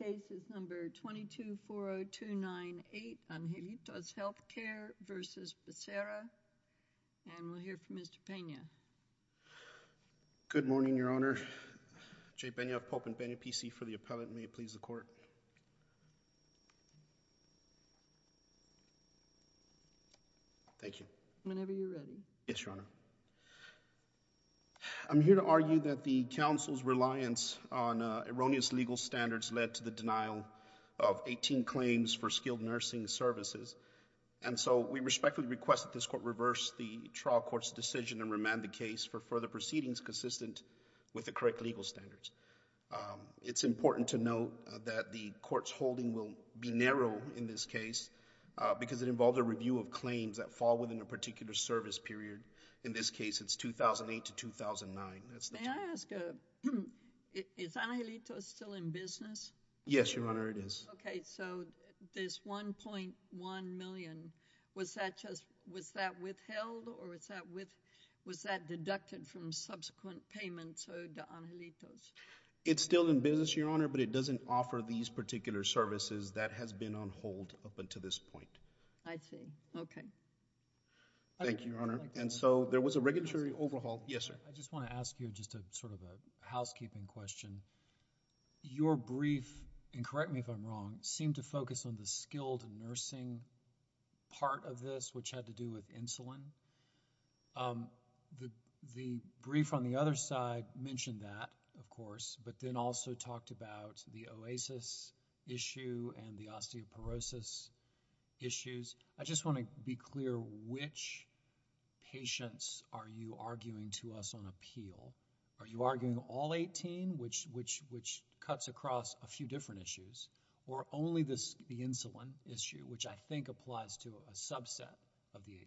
and we'll hear from Mr. Pena. Good morning, Your Honor. Jay Pena of Pope and Pena PC for the appellate, and may it please the Court. Thank you. Whenever you're ready. Yes, Your Honor. I'm here to argue that the Council's reliance on erroneous legal standards led to the denial of 18 claims for skilled nursing services, and so we respectfully request that this Court reverse the trial court's decision and remand the case for further proceedings consistent with the correct legal standards. It's important to note that the Court's holding will be narrow in this case because it involved a review of claims that fall within a particular service period. In this case, it's 2008 to 2009. May I ask, is Angelitos still in business? Yes, Your Honor, it is. Okay, so this $1.1 million, was that withheld or was that deducted from subsequent payments owed to Angelitos? It's still in business, Your Honor, but it doesn't offer these particular services that has been on hold up until this point. I see. Okay. Thank you, Your Honor. And so, there was a regulatory overhaul... Yes, sir. I just want to ask you just sort of a housekeeping question. Your brief, and correct me if I'm wrong, seemed to focus on the skilled nursing part of this which had to do with insulin. The brief on the other side mentioned that, of course, but then also talked about the OASIS issue and the osteoporosis issues. I just want to be clear, which patients are you arguing to us on appeal? Are you arguing all 18, which cuts across a few different issues, or only the insulin issue, which I think applies to a subset of the 18?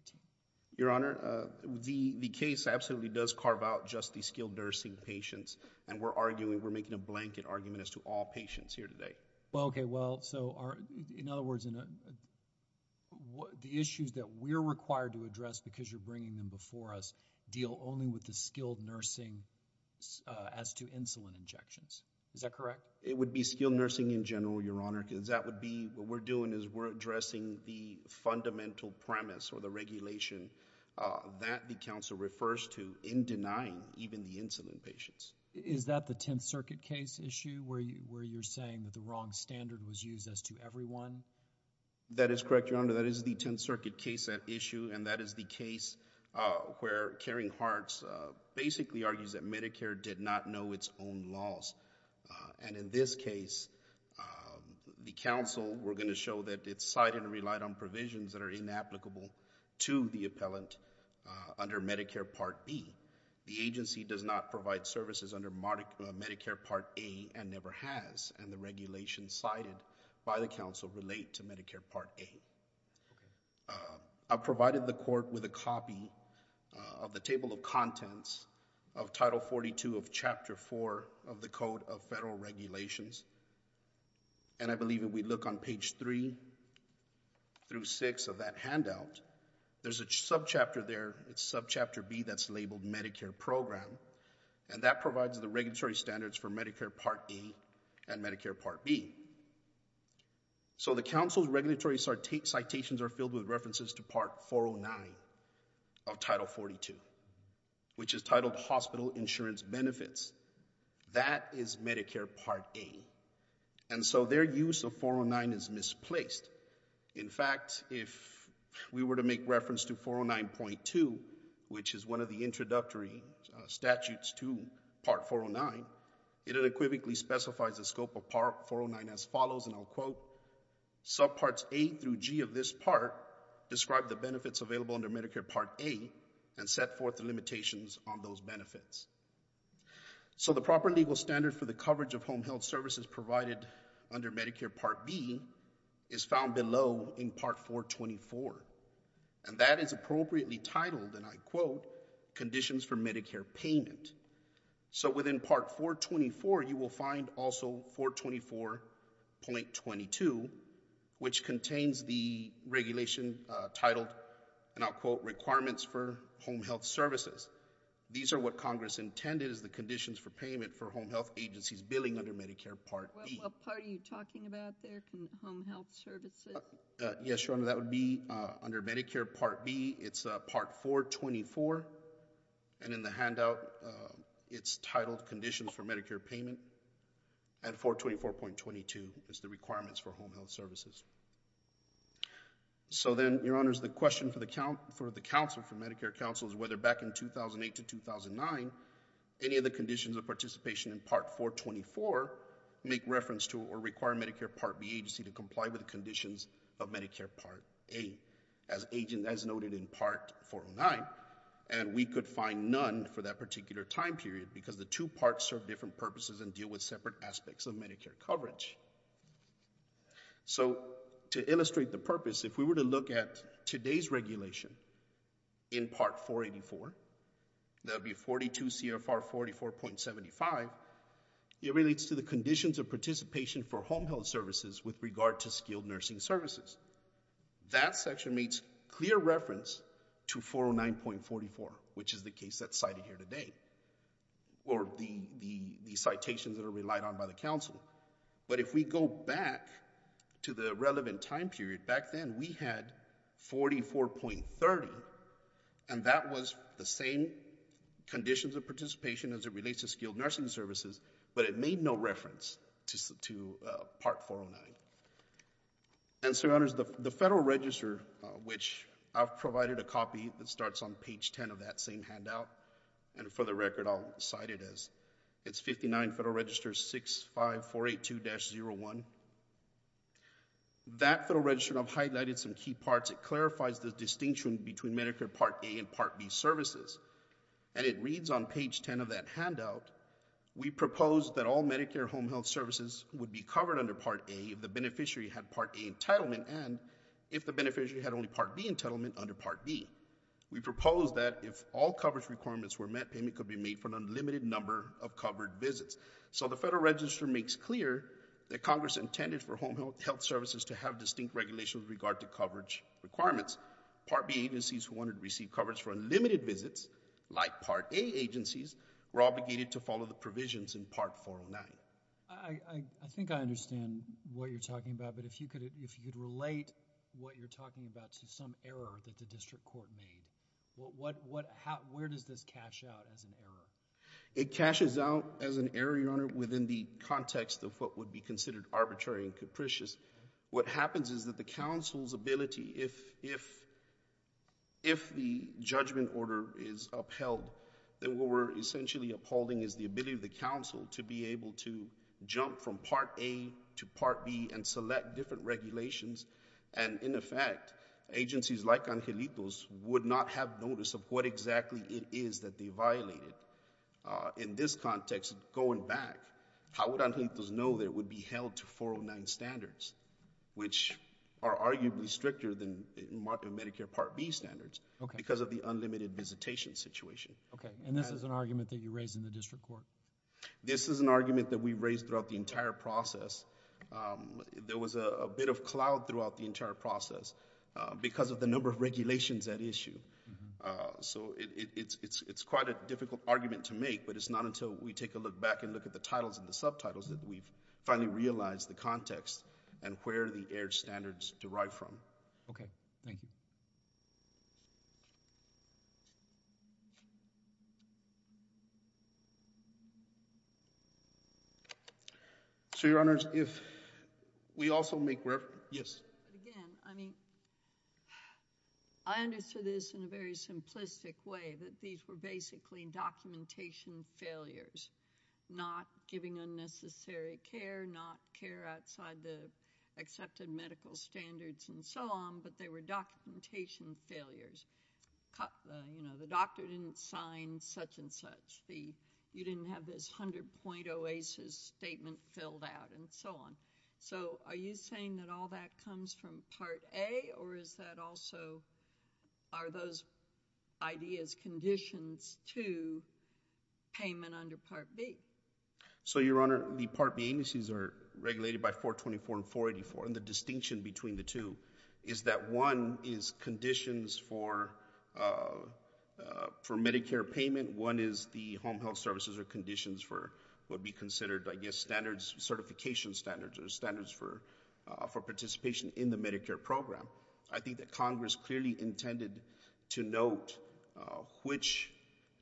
Your Honor, the case absolutely does carve out just the skilled nursing patients, and we're arguing, we're making a blanket argument as to all patients here today. Well, okay, well, so in other words, the issues that we're required to address because you're bringing them before us deal only with the skilled nursing as to insulin injections. Is that correct? It would be skilled nursing in general, Your Honor, because that would be, what we're doing is we're addressing the fundamental premise or the regulation that the counsel refers to in denying even the insulin patients. Is that the Tenth Circuit case issue where you're saying that the wrong standard was used as to everyone? That is correct, Your Honor. That is the Tenth Circuit case issue, and that is the case where Caring Hearts basically argues that Medicare did not know its own laws, and in this case, the counsel were going to show that it's cited and relied on provisions that are inapplicable to the appellant under Medicare Part B. The agency does not provide services under Medicare Part A and never has, and the regulations cited by the counsel relate to Medicare Part A. I provided the court with a copy of the table of contents of Title 42 of Chapter 4 of the Code of Federal Regulations, and I believe if we look on page 3 through 6 of that handout, there's a subchapter there, it's Subchapter B that's labeled Medicare Program, and that provides the regulatory standards for Medicare Part A and Medicare Part B. So the counsel's regulatory citations are filled with references to Part 409 of Title 42, which is titled Hospital Insurance Benefits. That is Medicare Part A, and so their use of 409 is misplaced. In fact, if we were to make reference to 409.2, which is one of the introductory statutes to Part 409, it unequivocally specifies the scope of Part 409 as follows, and I'll quote, Subparts A through G of this part describe the benefits available under Medicare Part A and set forth the limitations on those benefits. So the proper legal standard for the coverage of home health services provided under Medicare Part B is found below in Part 424, and that is appropriately titled, and I quote, Conditions for Medicare Payment. So within Part 424, you will find also 424.22, which contains the regulation titled, and I'll quote, Requirements for Home Health Services. These are what Congress intended as the conditions for payment for home health agencies billing under Medicare Part B. What part are you talking about there, home health services? Yes, Your Honor, that would be under Medicare Part B. It's Part 424, and in the handout, it's titled Conditions for Medicare Payment, and 424.22 is the requirements for home health services. So then, Your Honors, the question for the Council, for Medicare Council, is whether back in 2008 to 2009, any of the conditions of participation in Part 424 make reference to or require Medicare Part B agency to comply with conditions of Medicare Part A, as noted in Part 409, and we could find none for that particular time period because the two parts serve different purposes and deal with separate aspects of Medicare coverage. So, to illustrate the purpose, if we were to look at today's regulation in Part 484, that would be 42 CFR 44.75, it relates to the conditions of participation for home health services with regard to skilled nursing services. That section makes clear reference to 409.44, which is the case that's cited here today, or the citations that are relied on by the Council, but if we go back to the relevant time period, back then, we had 44.30, and that was the same conditions of participation as it relates to skilled nursing services, but it made no reference to Part 409. And so, Your Honors, the Federal Register, which I've provided a copy that starts on the record, I'll cite it as, it's 59 Federal Register 65482-01. That Federal Register, I've highlighted some key parts, it clarifies the distinction between Medicare Part A and Part B services, and it reads on page 10 of that handout, we propose that all Medicare home health services would be covered under Part A if the beneficiary had Part A entitlement, and if the beneficiary had only Part B entitlement under Part B. We propose that if all coverage requirements were met, payment could be made for an unlimited number of covered visits. So the Federal Register makes clear that Congress intended for home health services to have distinct regulations with regard to coverage requirements. Part B agencies who wanted to receive coverage for unlimited visits, like Part A agencies, were obligated to follow the provisions in Part 409. I think I understand what you're talking about, but if you could relate what you're talking about to some error that the district court made, where does this cash out as an error? It cashes out as an error, Your Honor, within the context of what would be considered arbitrary and capricious. What happens is that the counsel's ability, if the judgment order is upheld, then what we're essentially upholding is the ability of the counsel to be able to jump from Part A regulations, and in effect, agencies like Angelitos would not have notice of what exactly it is that they violated. In this context, going back, how would Angelitos know that it would be held to 409 standards, which are arguably stricter than marked in Medicare Part B standards because of the unlimited visitation situation. Okay. And this is an argument that you raised in the district court? This is an argument that we raised throughout the entire process. There was a bit of cloud throughout the entire process because of the number of regulations at issue. So it's quite a difficult argument to make, but it's not until we take a look back and look at the titles and the subtitles that we've finally realized the context and where the error standards derive from. Okay. Thank you. So, Your Honors, if we also make reference... Yes. Again, I mean, I understood this in a very simplistic way, that these were basically documentation failures, not giving unnecessary care, not care outside the accepted medical standards and so on, but they were documentation failures. You know, the doctor didn't sign such and such. You didn't have this 100-point OASIS statement filled out and so on. So are you saying that all that comes from Part A, or is that also... Are those ideas conditions to payment under Part B? So, Your Honor, the Part B indices are regulated by 424 and 484, and the distinction between the two is that one is conditions for Medicare payment, one is the home health services are conditions for what would be considered, I guess, certification standards or standards for participation in the Medicare program. I think that Congress clearly intended to note which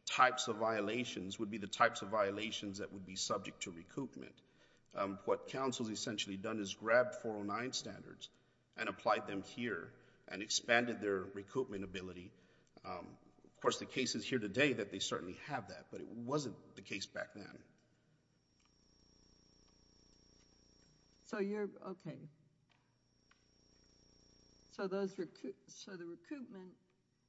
types of violations would be the types of violations that would be subject to recoupment. What counsel's essentially done is grabbed 409 standards and applied them here and expanded their recoupment ability. Of course, the case is here today that they certainly have that, but it wasn't the case back then. So you're... Okay. So the recoupment...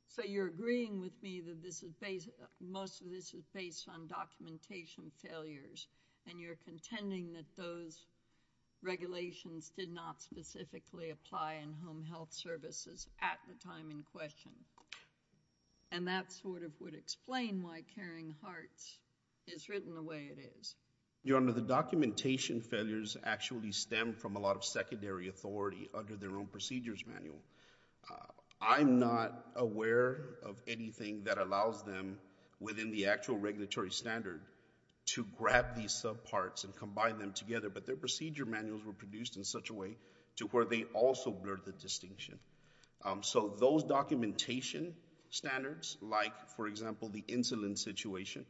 So you're agreeing with me that most of this is based on documentation failure? Yes. Okay. So you're agreeing with me that most of this is based on documentation failures and you're contending that those regulations did not specifically apply in home health services at the time in question, and that sort of would explain why Caring Hearts is written the way it is. Your Honor, the documentation failures actually stem from a lot of secondary authority under their own procedures manual. I'm not aware of anything that allows them within the actual regulatory standard to grab these subparts and combine them together, but their procedure manuals were produced in such a way to where they also blurred the distinction. So those documentation standards, like, for example, the insulin situation,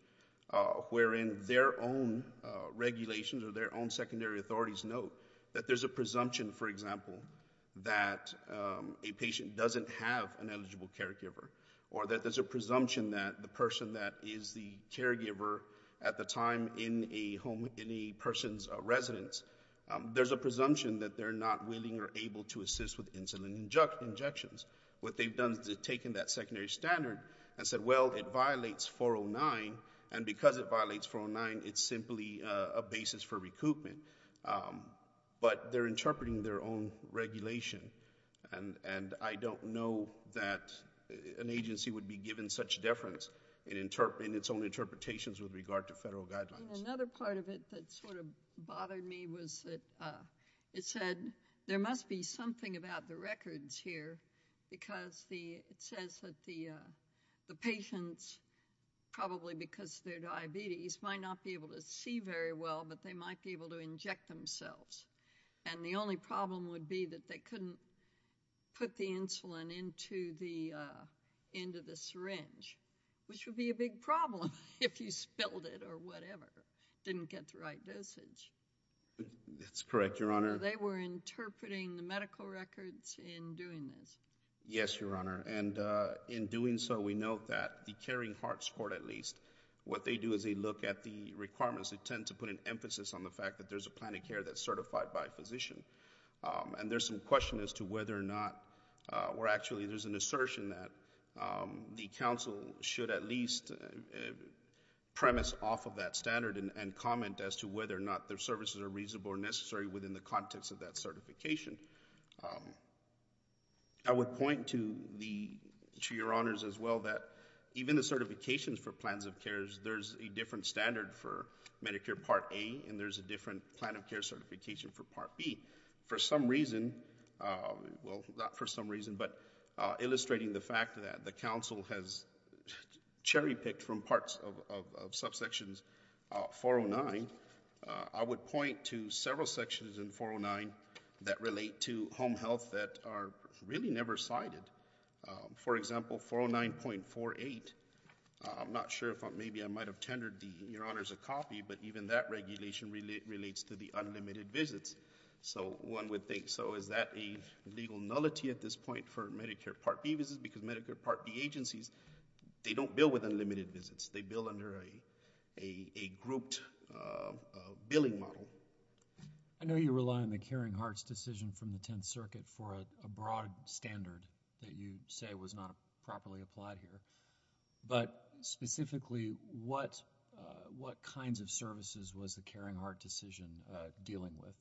wherein their own regulations or their own secondary authorities note that there's a presumption, for example, that a patient doesn't have an eligible caregiver, or that there's a presumption that the person that is the caregiver at the time in a person's residence, there's a presumption that they're not willing or able to assist with insulin injections. What they've done is they've taken that secondary standard and said, well, it violates 409, and because it violates 409, it's simply a basis for recoupment. But they're interpreting their own regulation, and I don't know that an agency would be given such deference in its own interpretations with regard to federal guidelines. Another part of it that sort of bothered me was that it said there must be something about the records here, because it says that the patients, probably because of their diabetes, might not be able to see very well, but they might be able to inject themselves. And the only problem would be that they couldn't put the insulin into the syringe, which would be a big problem if you spilled it or whatever, didn't get the right dosage. That's correct, Your Honor. They were interpreting the medical records in doing this. Yes, Your Honor, and in doing so, we note that the Caring Hearts Court, at least, what they look at the requirements, they tend to put an emphasis on the fact that there's a plan of care that's certified by a physician. And there's some question as to whether or not, or actually there's an assertion that the council should at least premise off of that standard and comment as to whether or not their services are reasonable or necessary within the context of that certification. I would point to the, to Your Honors as well, that even the certifications for plans of care are standard for Medicare Part A, and there's a different plan of care certification for Part B. For some reason, well, not for some reason, but illustrating the fact that the council has cherry-picked from parts of subsections 409, I would point to several sections in 409 that relate to home health that are really never cited. For example, 409.48, I'm not sure if, maybe I might have tendered the, Your Honors, a copy, but even that regulation relates to the unlimited visits. So one would think, so is that a legal nullity at this point for Medicare Part B visits? Because Medicare Part B agencies, they don't bill with unlimited visits. They bill under a grouped billing model. I know you rely on the Caring Hearts decision from the Tenth Circuit for a broad standard that you say was not properly applied here, but specifically, what kinds of services was the Caring Heart decision dealing with?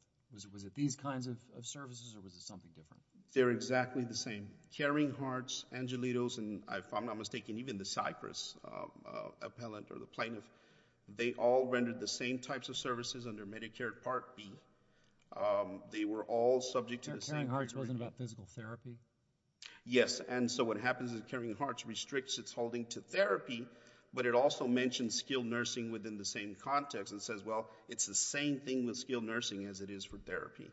Was it these kinds of services, or was it something different? They're exactly the same. Caring Hearts, Angelitos, and if I'm not mistaken, even the Cypress appellant or the plaintiff, they all rendered the same types of services under Medicare Part B. They were all subject to the same. Caring Hearts wasn't about physical therapy? Yes. And so what happens is Caring Hearts restricts its holding to therapy, but it also mentions skilled nursing within the same context and says, well, it's the same thing with skilled nursing as it is for therapy.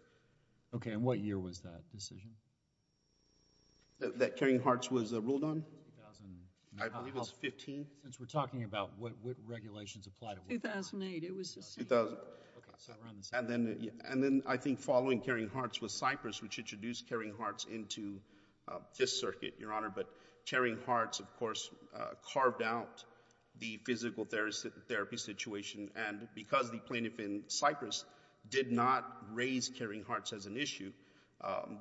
Okay, and what year was that decision? That Caring Hearts was ruled on? I believe it was 15. Since we're talking about what regulations apply to what kind of service. 2008, it was the same. And then I think following Caring Hearts was Cypress, which introduced Caring Hearts into Fifth Circuit, Your Honor, but Caring Hearts, of course, carved out the physical therapy situation, and because the plaintiff in Cypress did not raise Caring Hearts as an issue,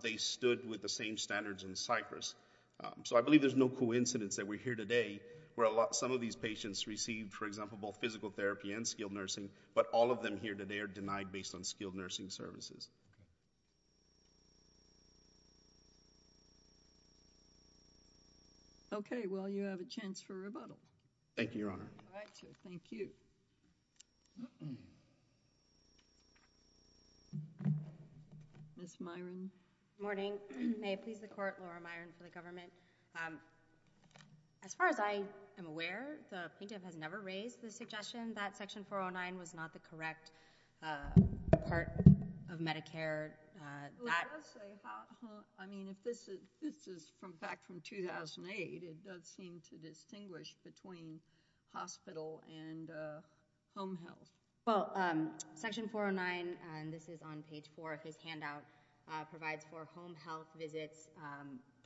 they stood with the same standards in Cypress. So I believe there's no coincidence that we're here today where some of these patients received, for example, both physical therapy and skilled nursing, but all of them here today are denied based on skilled nursing services. Okay, well, you have a chance for rebuttal. Thank you, Your Honor. Thank you. Ms. Myron. May it please the Court, Laura Myron, for the testimony. Thank you, Your Honor. Thank you, Mr. Chairman. As far as I am aware, the plaintiff has never raised the suggestion that Section 409 was not the correct part of Medicare. I mean, if this is back from 2008, it does seem to distinguish between hospital and home health. Well, Section 409, and this is on page 4 of his handout, provides for home health visits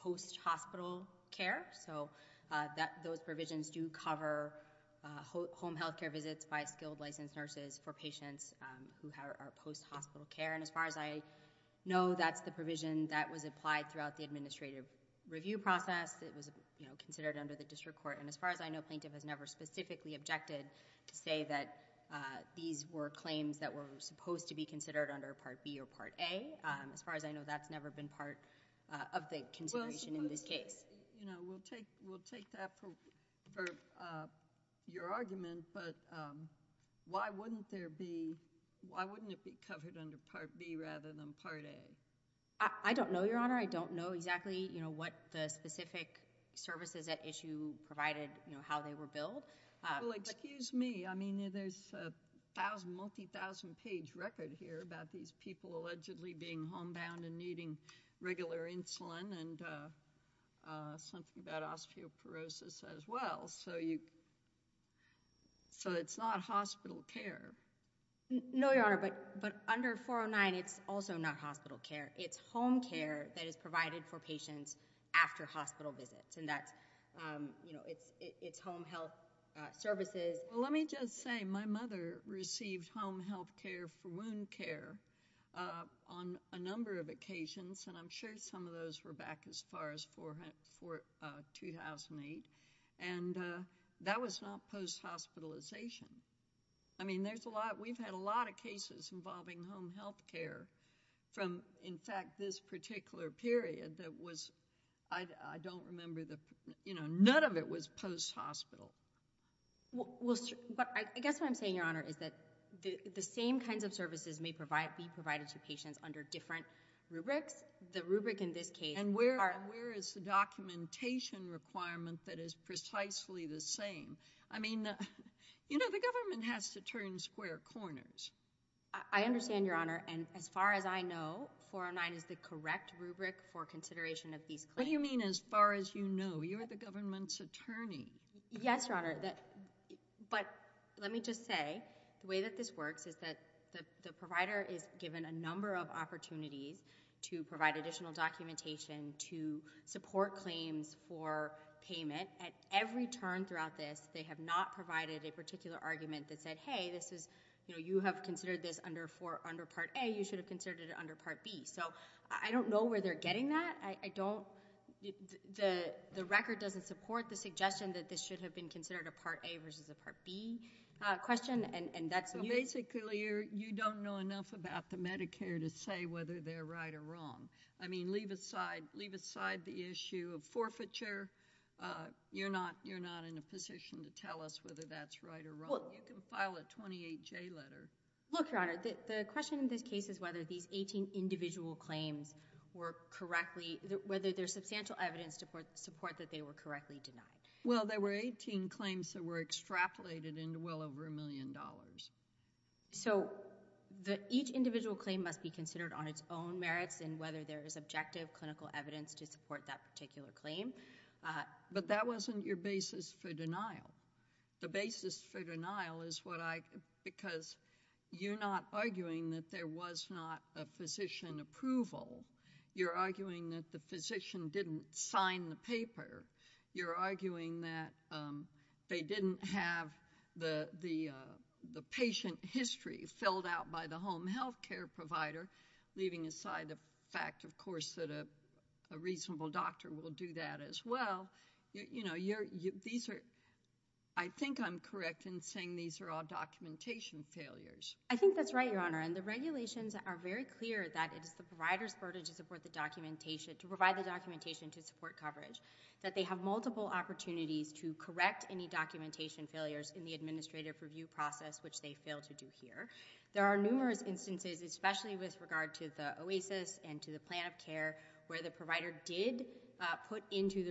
post-hospital care. So those provisions do cover home health care visits by skilled licensed nurses for patients who are post-hospital care. And as far as I know, that's the provision that was applied throughout the administrative review process. It was considered under the district court. And as far as I know, plaintiff has never specifically objected to say that these were claims that were supposed to be considered under Part B or Part A. As far as I know, that's never been part of the consideration in this case. We'll take that for your argument, but why wouldn't it be covered under Part B rather than Part A? I don't know, Your Honor. I don't know exactly what the specific services at issue provided, how they were billed. Well, excuse me. I mean, there's a multi-thousand page record here about these people allegedly being homebound and needing regular insulin and something about osteoporosis as well. So it's not hospital care. No, Your Honor. But under 409, it's also not hospital care. It's home care that is provided for patients after hospital visits. And it's home health services. Well, let me just say, my mother received home health care for wound care on a number of occasions, and I'm sure some of those were back as far as 2008. And that was not post-hospitalization. I mean, we've had a lot of cases involving home health care from, in fact, this Well, I guess what I'm saying, Your Honor, is that the same kinds of services may be provided to patients under different rubrics. The rubric in this case... And where is the documentation requirement that is precisely the same? I mean, you know, the government has to turn square corners. I understand, Your Honor. And as far as I know, 409 is the correct rubric for consideration of these claims. What do you mean, as far as you know? You're the government's attorney. Yes, Your Honor. But let me just say, the way that this works is that the provider is given a number of opportunities to provide additional documentation to support claims for payment. At every turn throughout this, they have not provided a particular argument that said, hey, this is, you know, you have considered this under Part A. You should have considered it under Part B. So I don't know where they're getting that. I don't... The record doesn't support the suggestion that this should have been considered a Part A versus a Part B question, and that's... Well, basically, you don't know enough about the Medicare to say whether they're right or wrong. I mean, leave aside the issue of forfeiture. You're not in a position to tell us whether that's right or wrong. You can file a 28J letter. Look, Your Honor, the question in this case is whether these 18 individual claims were correctly... Whether there's substantial evidence to support that they were correctly denied. Well, there were 18 claims that were extrapolated into well over a million dollars. So each individual claim must be considered on its own merits and whether there is objective clinical evidence to support that particular claim. But that wasn't your basis for denial. The basis for denial is what I... Because you're not arguing that there was not a physician approval. You're arguing that the physician didn't sign the paper. You're arguing that they didn't have the patient history filled out by the home health care provider, leaving aside the fact, of course, that a reasonable doctor will do that as well. I think I'm correct in saying these are all documentation failures. I think that's right, Your Honor, and the regulations are very clear that it is the provider's burden to provide the documentation to support coverage, that they have multiple opportunities to correct any documentation failures in the administrative review process, which they failed to do here. There are numerous instances, especially with regard to the OASIS and to the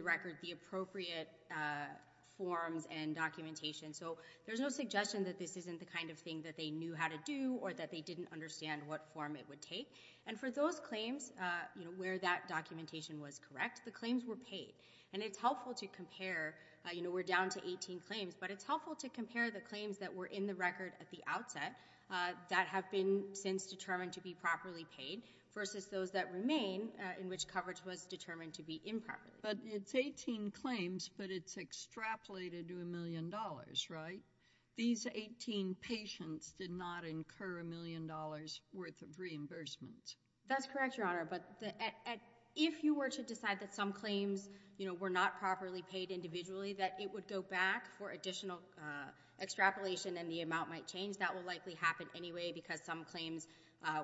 record, the appropriate forms and documentation. So there's no suggestion that this isn't the kind of thing that they knew how to do or that they didn't understand what form it would take. And for those claims where that documentation was correct, the claims were paid. And it's helpful to compare. We're down to 18 claims, but it's helpful to compare the claims that were in the record at the outset that have been since determined to be properly paid versus those that remain in which coverage was determined to be improper. But it's 18 claims, but it's extrapolated to a million dollars, right? These 18 patients did not incur a million dollars worth of reimbursements. That's correct, Your Honor, but if you were to decide that some claims, you know, were not properly paid individually, that it would go back for additional extrapolation and the amount might change. That will likely happen anyway because some claims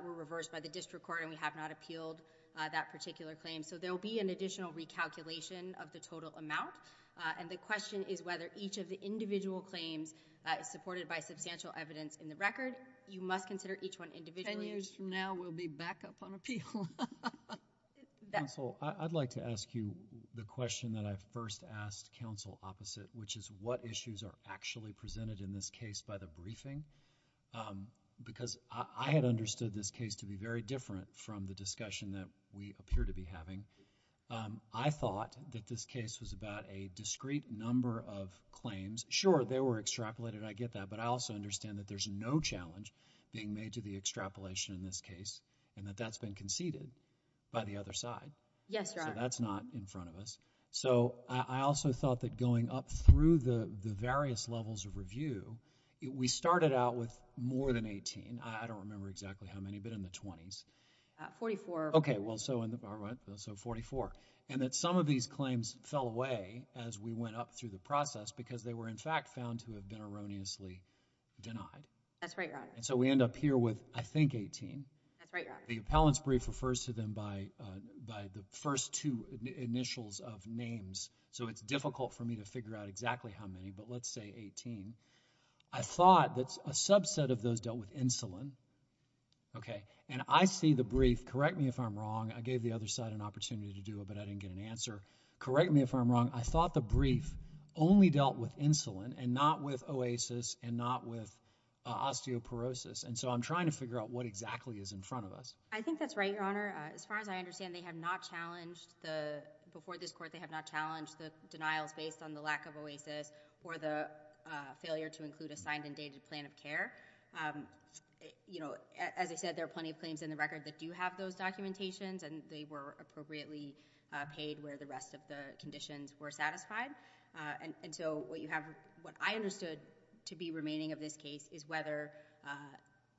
were reversed by the district court and we have not appealed that particular claim. So there will be an additional recalculation of the total amount. And the question is whether each of the individual claims supported by substantial evidence in the record. You must consider each one individually. Ten years from now, we'll be back up on appeal. Counsel, I'd like to ask you the question that I first asked counsel opposite, which is what issues are actually presented in this case by the briefing? Because I had understood this case to be very different from the discussion that we appear to be having. I thought that this case was about a discrete number of claims. Sure, they were extrapolated. I get that. But I also understand that there's no challenge being made to the extrapolation in this case and that that's been conceded by the other side. Yes, Your Honor. So that's not in front of us. So I also thought that going up through the various levels of review, we started out with more than 18. I don't remember exactly how many, but in the twenties. Forty-four. Okay, well, so 44. And that some of these claims fell away as we went up through the process because they were, in fact, found to have been erroneously denied. That's right, Your Honor. And so we end up here with, I think, 18. That's right, Your Honor. The appellant's brief refers to them by the first two initials of names, so it's difficult for me to figure out exactly how many, but let's say 18. I thought that a subset of those dealt with insulin. Okay. And I see the brief. Correct me if I'm wrong. I gave the other side an opportunity to do it, but I didn't get an answer. Correct me if I'm wrong. I thought the brief only dealt with insulin and not with OASIS and not with osteoporosis. And so I'm trying to figure out what exactly is in front of us. I think that's right, Your Honor. As far as I understand, they have not challenged the – before this court, they have not challenged the denials based on the lack of OASIS or the failure to include a signed and dated plan of care. As I said, there are plenty of claims in the record that do have those documentations, and they were appropriately paid where the rest of the conditions were satisfied. And so what I understood to be remaining of this case is whether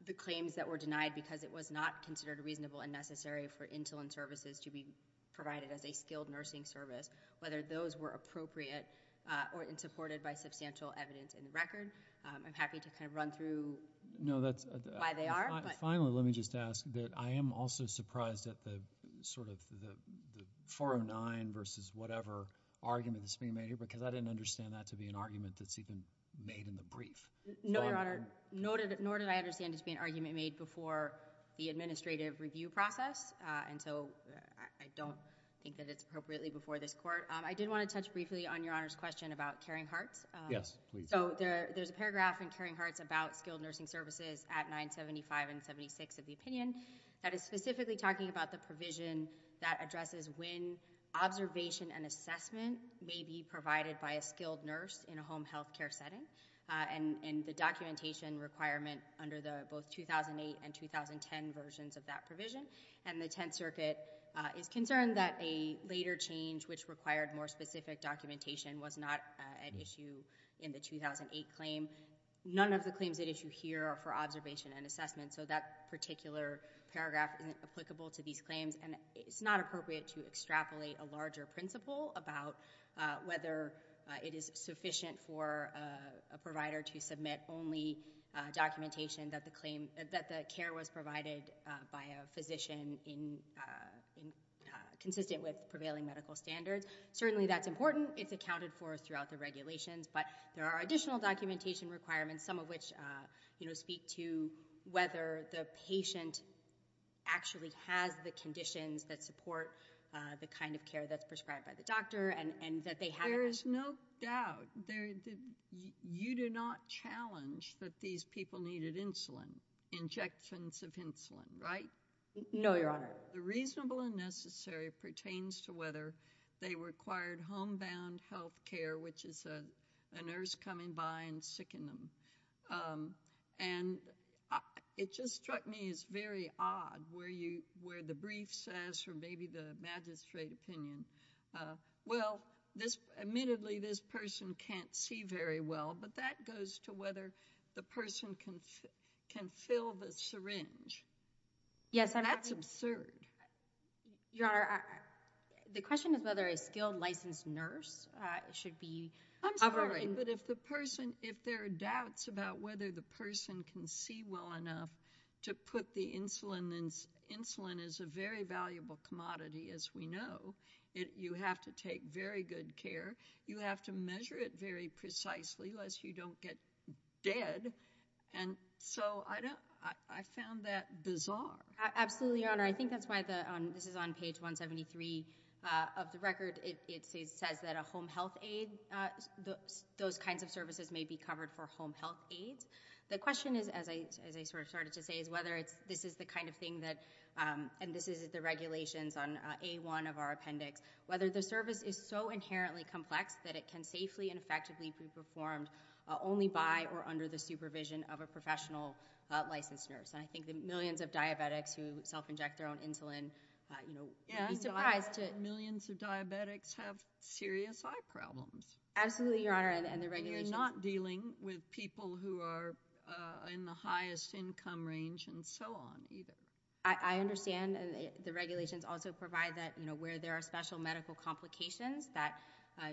the claims that were denied because it was not considered reasonable and necessary for insulin services to be provided as a skilled nursing service, whether those were appropriate or insupported by substantial evidence in the record. I'm happy to kind of run through why they are. Finally, let me just ask that I am also surprised at the sort of the 409 versus whatever argument that's being made here because I didn't understand that to be an argument that's even made in the brief. No, Your Honor. Nor did I understand it to be an argument made before the administrative review process. And so I don't think that it's appropriately before this court. I did want to touch briefly on Your Honor's question about caring hearts. Yes, please. So there's a paragraph in caring hearts about skilled nursing services at 975 and 76 of the opinion that is specifically talking about the provision that addresses when observation and assessment may be provided by a skilled nurse in a home health care setting and the documentation requirement under the both 2008 and 2010 versions of that provision. And the Tenth Circuit is concerned that a later change which required more specific documentation was not at issue in the 2008 claim. None of the claims at issue here are for observation and assessment so that particular paragraph isn't applicable to these claims and it's not appropriate to extrapolate a larger principle about whether it is sufficient for a provider to submit only documentation that the care was provided by a physician consistent with prevailing medical standards. Certainly that's important. It's accounted for throughout the regulations, but there are additional documentation requirements, some of which speak to whether the patient actually has the conditions that support the kind of care that's prescribed by the doctor and that they have it. There is no doubt. You do not challenge that these people needed insulin, injections of insulin, right? No, Your Honor. The reasonable and necessary pertains to whether they required homebound health care, which is a nurse coming by and sickening them. And it just struck me as very odd where the brief says, or maybe the magistrate opinion, well, admittedly this person can't see very well, That's absurd. Your Honor, the question is whether a skilled licensed nurse should be covering. I'm sorry, but if there are doubts about whether the person can see well enough to put the insulin in, insulin is a very valuable commodity as we know. You have to take very good care. You have to measure it very precisely lest you don't get dead. And so I found that bizarre. Absolutely, Your Honor. I think that's why this is on page 173 of the record. It says that a home health aid, those kinds of services may be covered for home health aids. The question is, as I sort of started to say, is whether this is the kind of thing that, and this is the regulations on A1 of our appendix, whether the service is so inherently complex that it can safely and without the supervision of a professional licensed nurse. And I think the millions of diabetics who self-inject their own insulin, you know, millions of diabetics have serious eye problems. Absolutely, Your Honor. And you're not dealing with people who are in the highest income range and so on either. I understand. And the regulations also provide that, you know, where there are special medical complications that,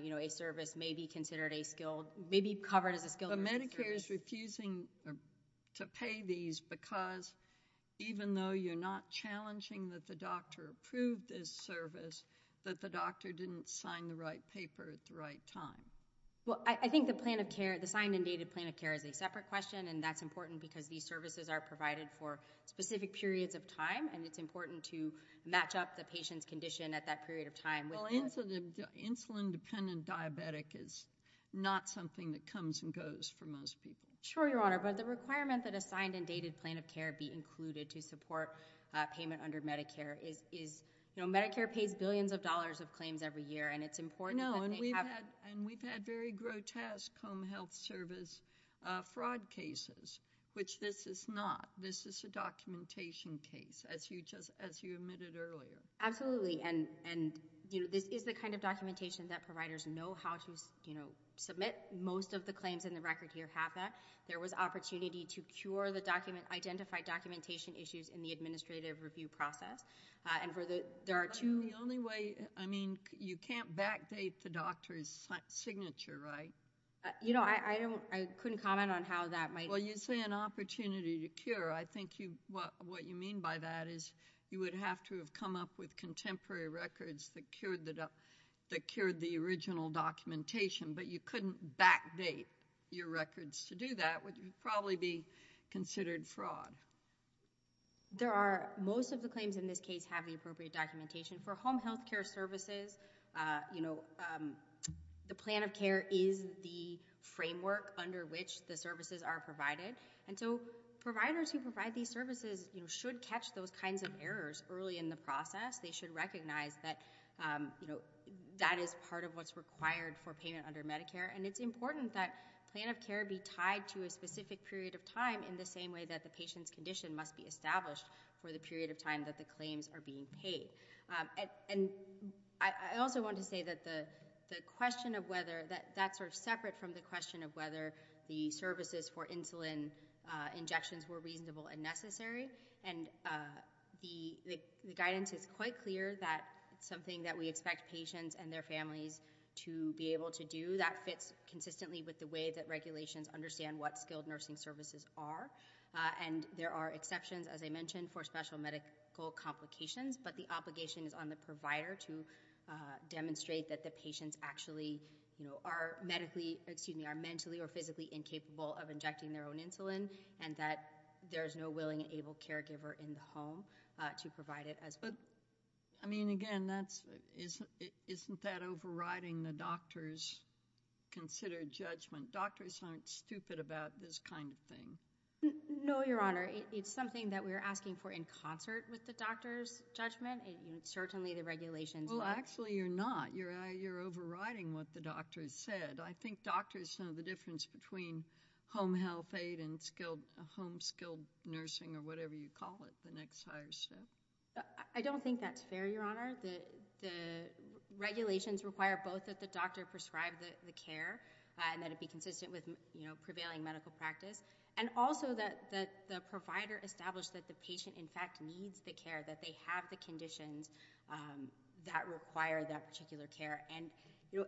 you know, a service may be considered a skilled, may be covered as a skilled nurse. But Medicare is refusing to pay these because even though you're not challenging that the doctor approved this service, that the doctor didn't sign the right paper at the right time. Well, I think the plan of care, the signed and dated plan of care is a separate question and that's important because these services are provided for specific periods of time and it's important to match up the patient's condition at that period of time. Well, insulin dependent diabetic is not something that comes and goes for most people. Sure, Your Honor. But the requirement that a signed and dated plan of care be included to support payment under Medicare is, you know, Medicare pays billions of dollars of claims every year and it's important. No. And we've had very grotesque home health service fraud cases, which this is not. This is a documentation case as you just, as you admitted earlier. Absolutely. And, you know, this is the kind of documentation that providers know how to, you know, submit. Most of the claims in the record here have that. There was opportunity to cure the document, identify documentation issues in the administrative review process. And for the, there are two. The only way, I mean, you can't backdate the doctor's signature, right? You know, I don't, I couldn't comment on how that might. Well, you say an opportunity to cure. I think you, what, You know, you could come up with contemporary records that cured that up that cured the original documentation, but you couldn't backdate your records to do that would probably be considered fraud. There are most of the claims in this case have the appropriate documentation for home health care services. You know, The plan of care is the framework under which the services are provided. And so providers who provide these services should catch those kinds of claims in the process. They should recognize that, you know, that is part of what's required for payment under Medicare. And it's important that plan of care be tied to a specific period of time in the same way that the patient's condition must be established for the period of time that the claims are being paid. And I also want to say that the, the question of whether that, that sort of separate from the question of whether the services for insulin injections were reasonable and necessary. And the, the guidance is quite clear that something that we expect patients and their families to be able to do that fits consistently with the way that regulations understand what skilled nursing services are. And there are exceptions, as I mentioned, for special medical complications, but the obligation is on the provider to demonstrate that the patients actually are medically, excuse me, are mentally or physically incapable of injecting their own insulin. And that there's no willing able caregiver in the home to provide it as, but I mean, again, that's, isn't, isn't that overriding the doctor's considered judgment? Doctors aren't stupid about this kind of thing. No, Your Honor. It's something that we're asking for in concert with the doctor's judgment. And certainly the regulations, well, actually you're not, you're, you're overriding what the doctor said. I think doctors know the difference between home health aid and skilled home skilled nursing or whatever you call it, the next higher step. I don't think that's fair. Your Honor, the, the regulations require both that the doctor prescribed the care and that it be consistent with, you know, prevailing medical practice. And also that, that the provider established that the patient in fact needs the care, that they have the conditions that require that particular care. And, you know,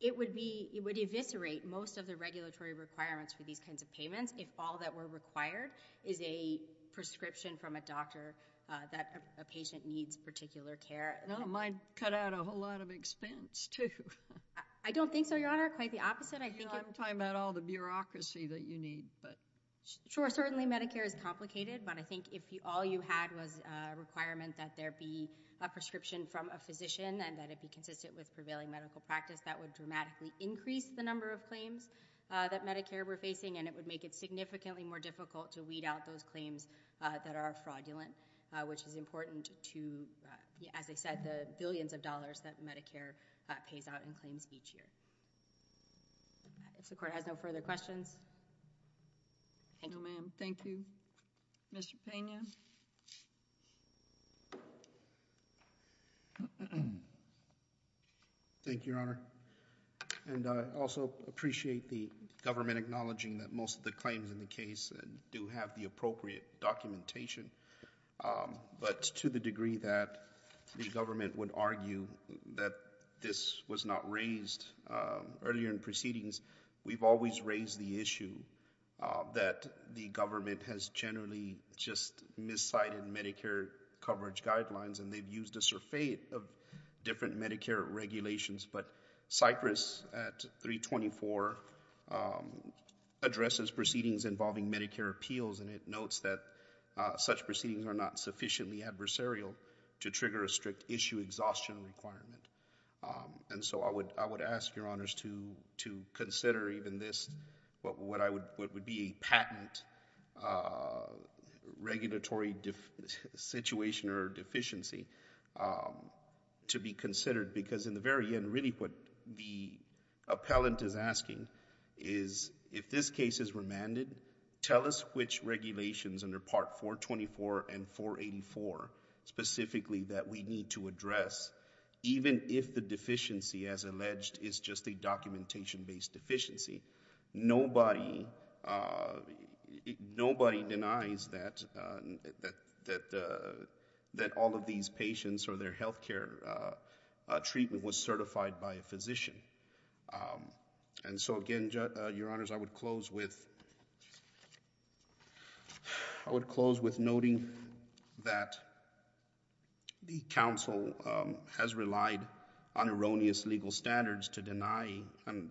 it would be, it would eviscerate most of the regulatory requirements for these kinds of payments. If all that were required is a prescription from a doctor that a patient needs particular care. And I don't mind cut out a whole lot of expense too. I don't think so. Your Honor, quite the opposite. I think I'm talking about all the bureaucracy that you need, but. Sure. Certainly Medicare is complicated, but I think if all you had was a requirement that there be a prescription from a physician and that it be consistent with prevailing medical practice, that would dramatically increase the number of claims that Medicare we're facing. And it would make it significantly more difficult to weed out those claims that are fraudulent, which is important to, as I said, the billions of dollars that Medicare pays out in claims each year. If the court has no further questions. Thank you, ma'am. Thank you, Mr. Pena. Thank you, Your Honor. And I also appreciate the government acknowledging that most of the claims in the case do have the appropriate documentation. But to the degree that the government would argue that this was not raised earlier in proceedings, we've always raised the issue that the government has generally just miscited Medicare coverage guidelines, and they've used a surfeit of different Medicare regulations. But Cypress at 324 addresses proceedings involving Medicare appeals, and it notes that such proceedings are not sufficiently adversarial to trigger a strict issue exhaustion requirement. And so I would ask Your Honors to consider even this, what would be a patent regulatory situation or deficiency to be considered, because in the very end, really what the appellant is asking is, if this case is remanded, tell us which regulations under Part 424 and 484 specifically that we need to address, even if the deficiency, as alleged, is just a documentation-based deficiency. Nobody denies that all of these patients or their health care treatment was certified by a physician. And so again, Your Honors, I would close with noting that the counsel has relied on erroneous legal standards to deny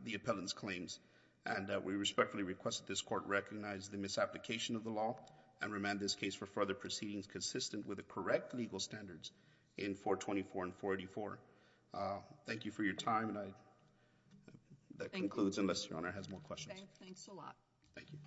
the appellant's claims, and we respectfully request that this court recognize the misapplication of the law and remand this case for further proceedings consistent with the correct legal standards in 424 and 484. Thank you for your time. And that concludes unless Your Honor has more questions. Okay. Thanks a lot. Thank you.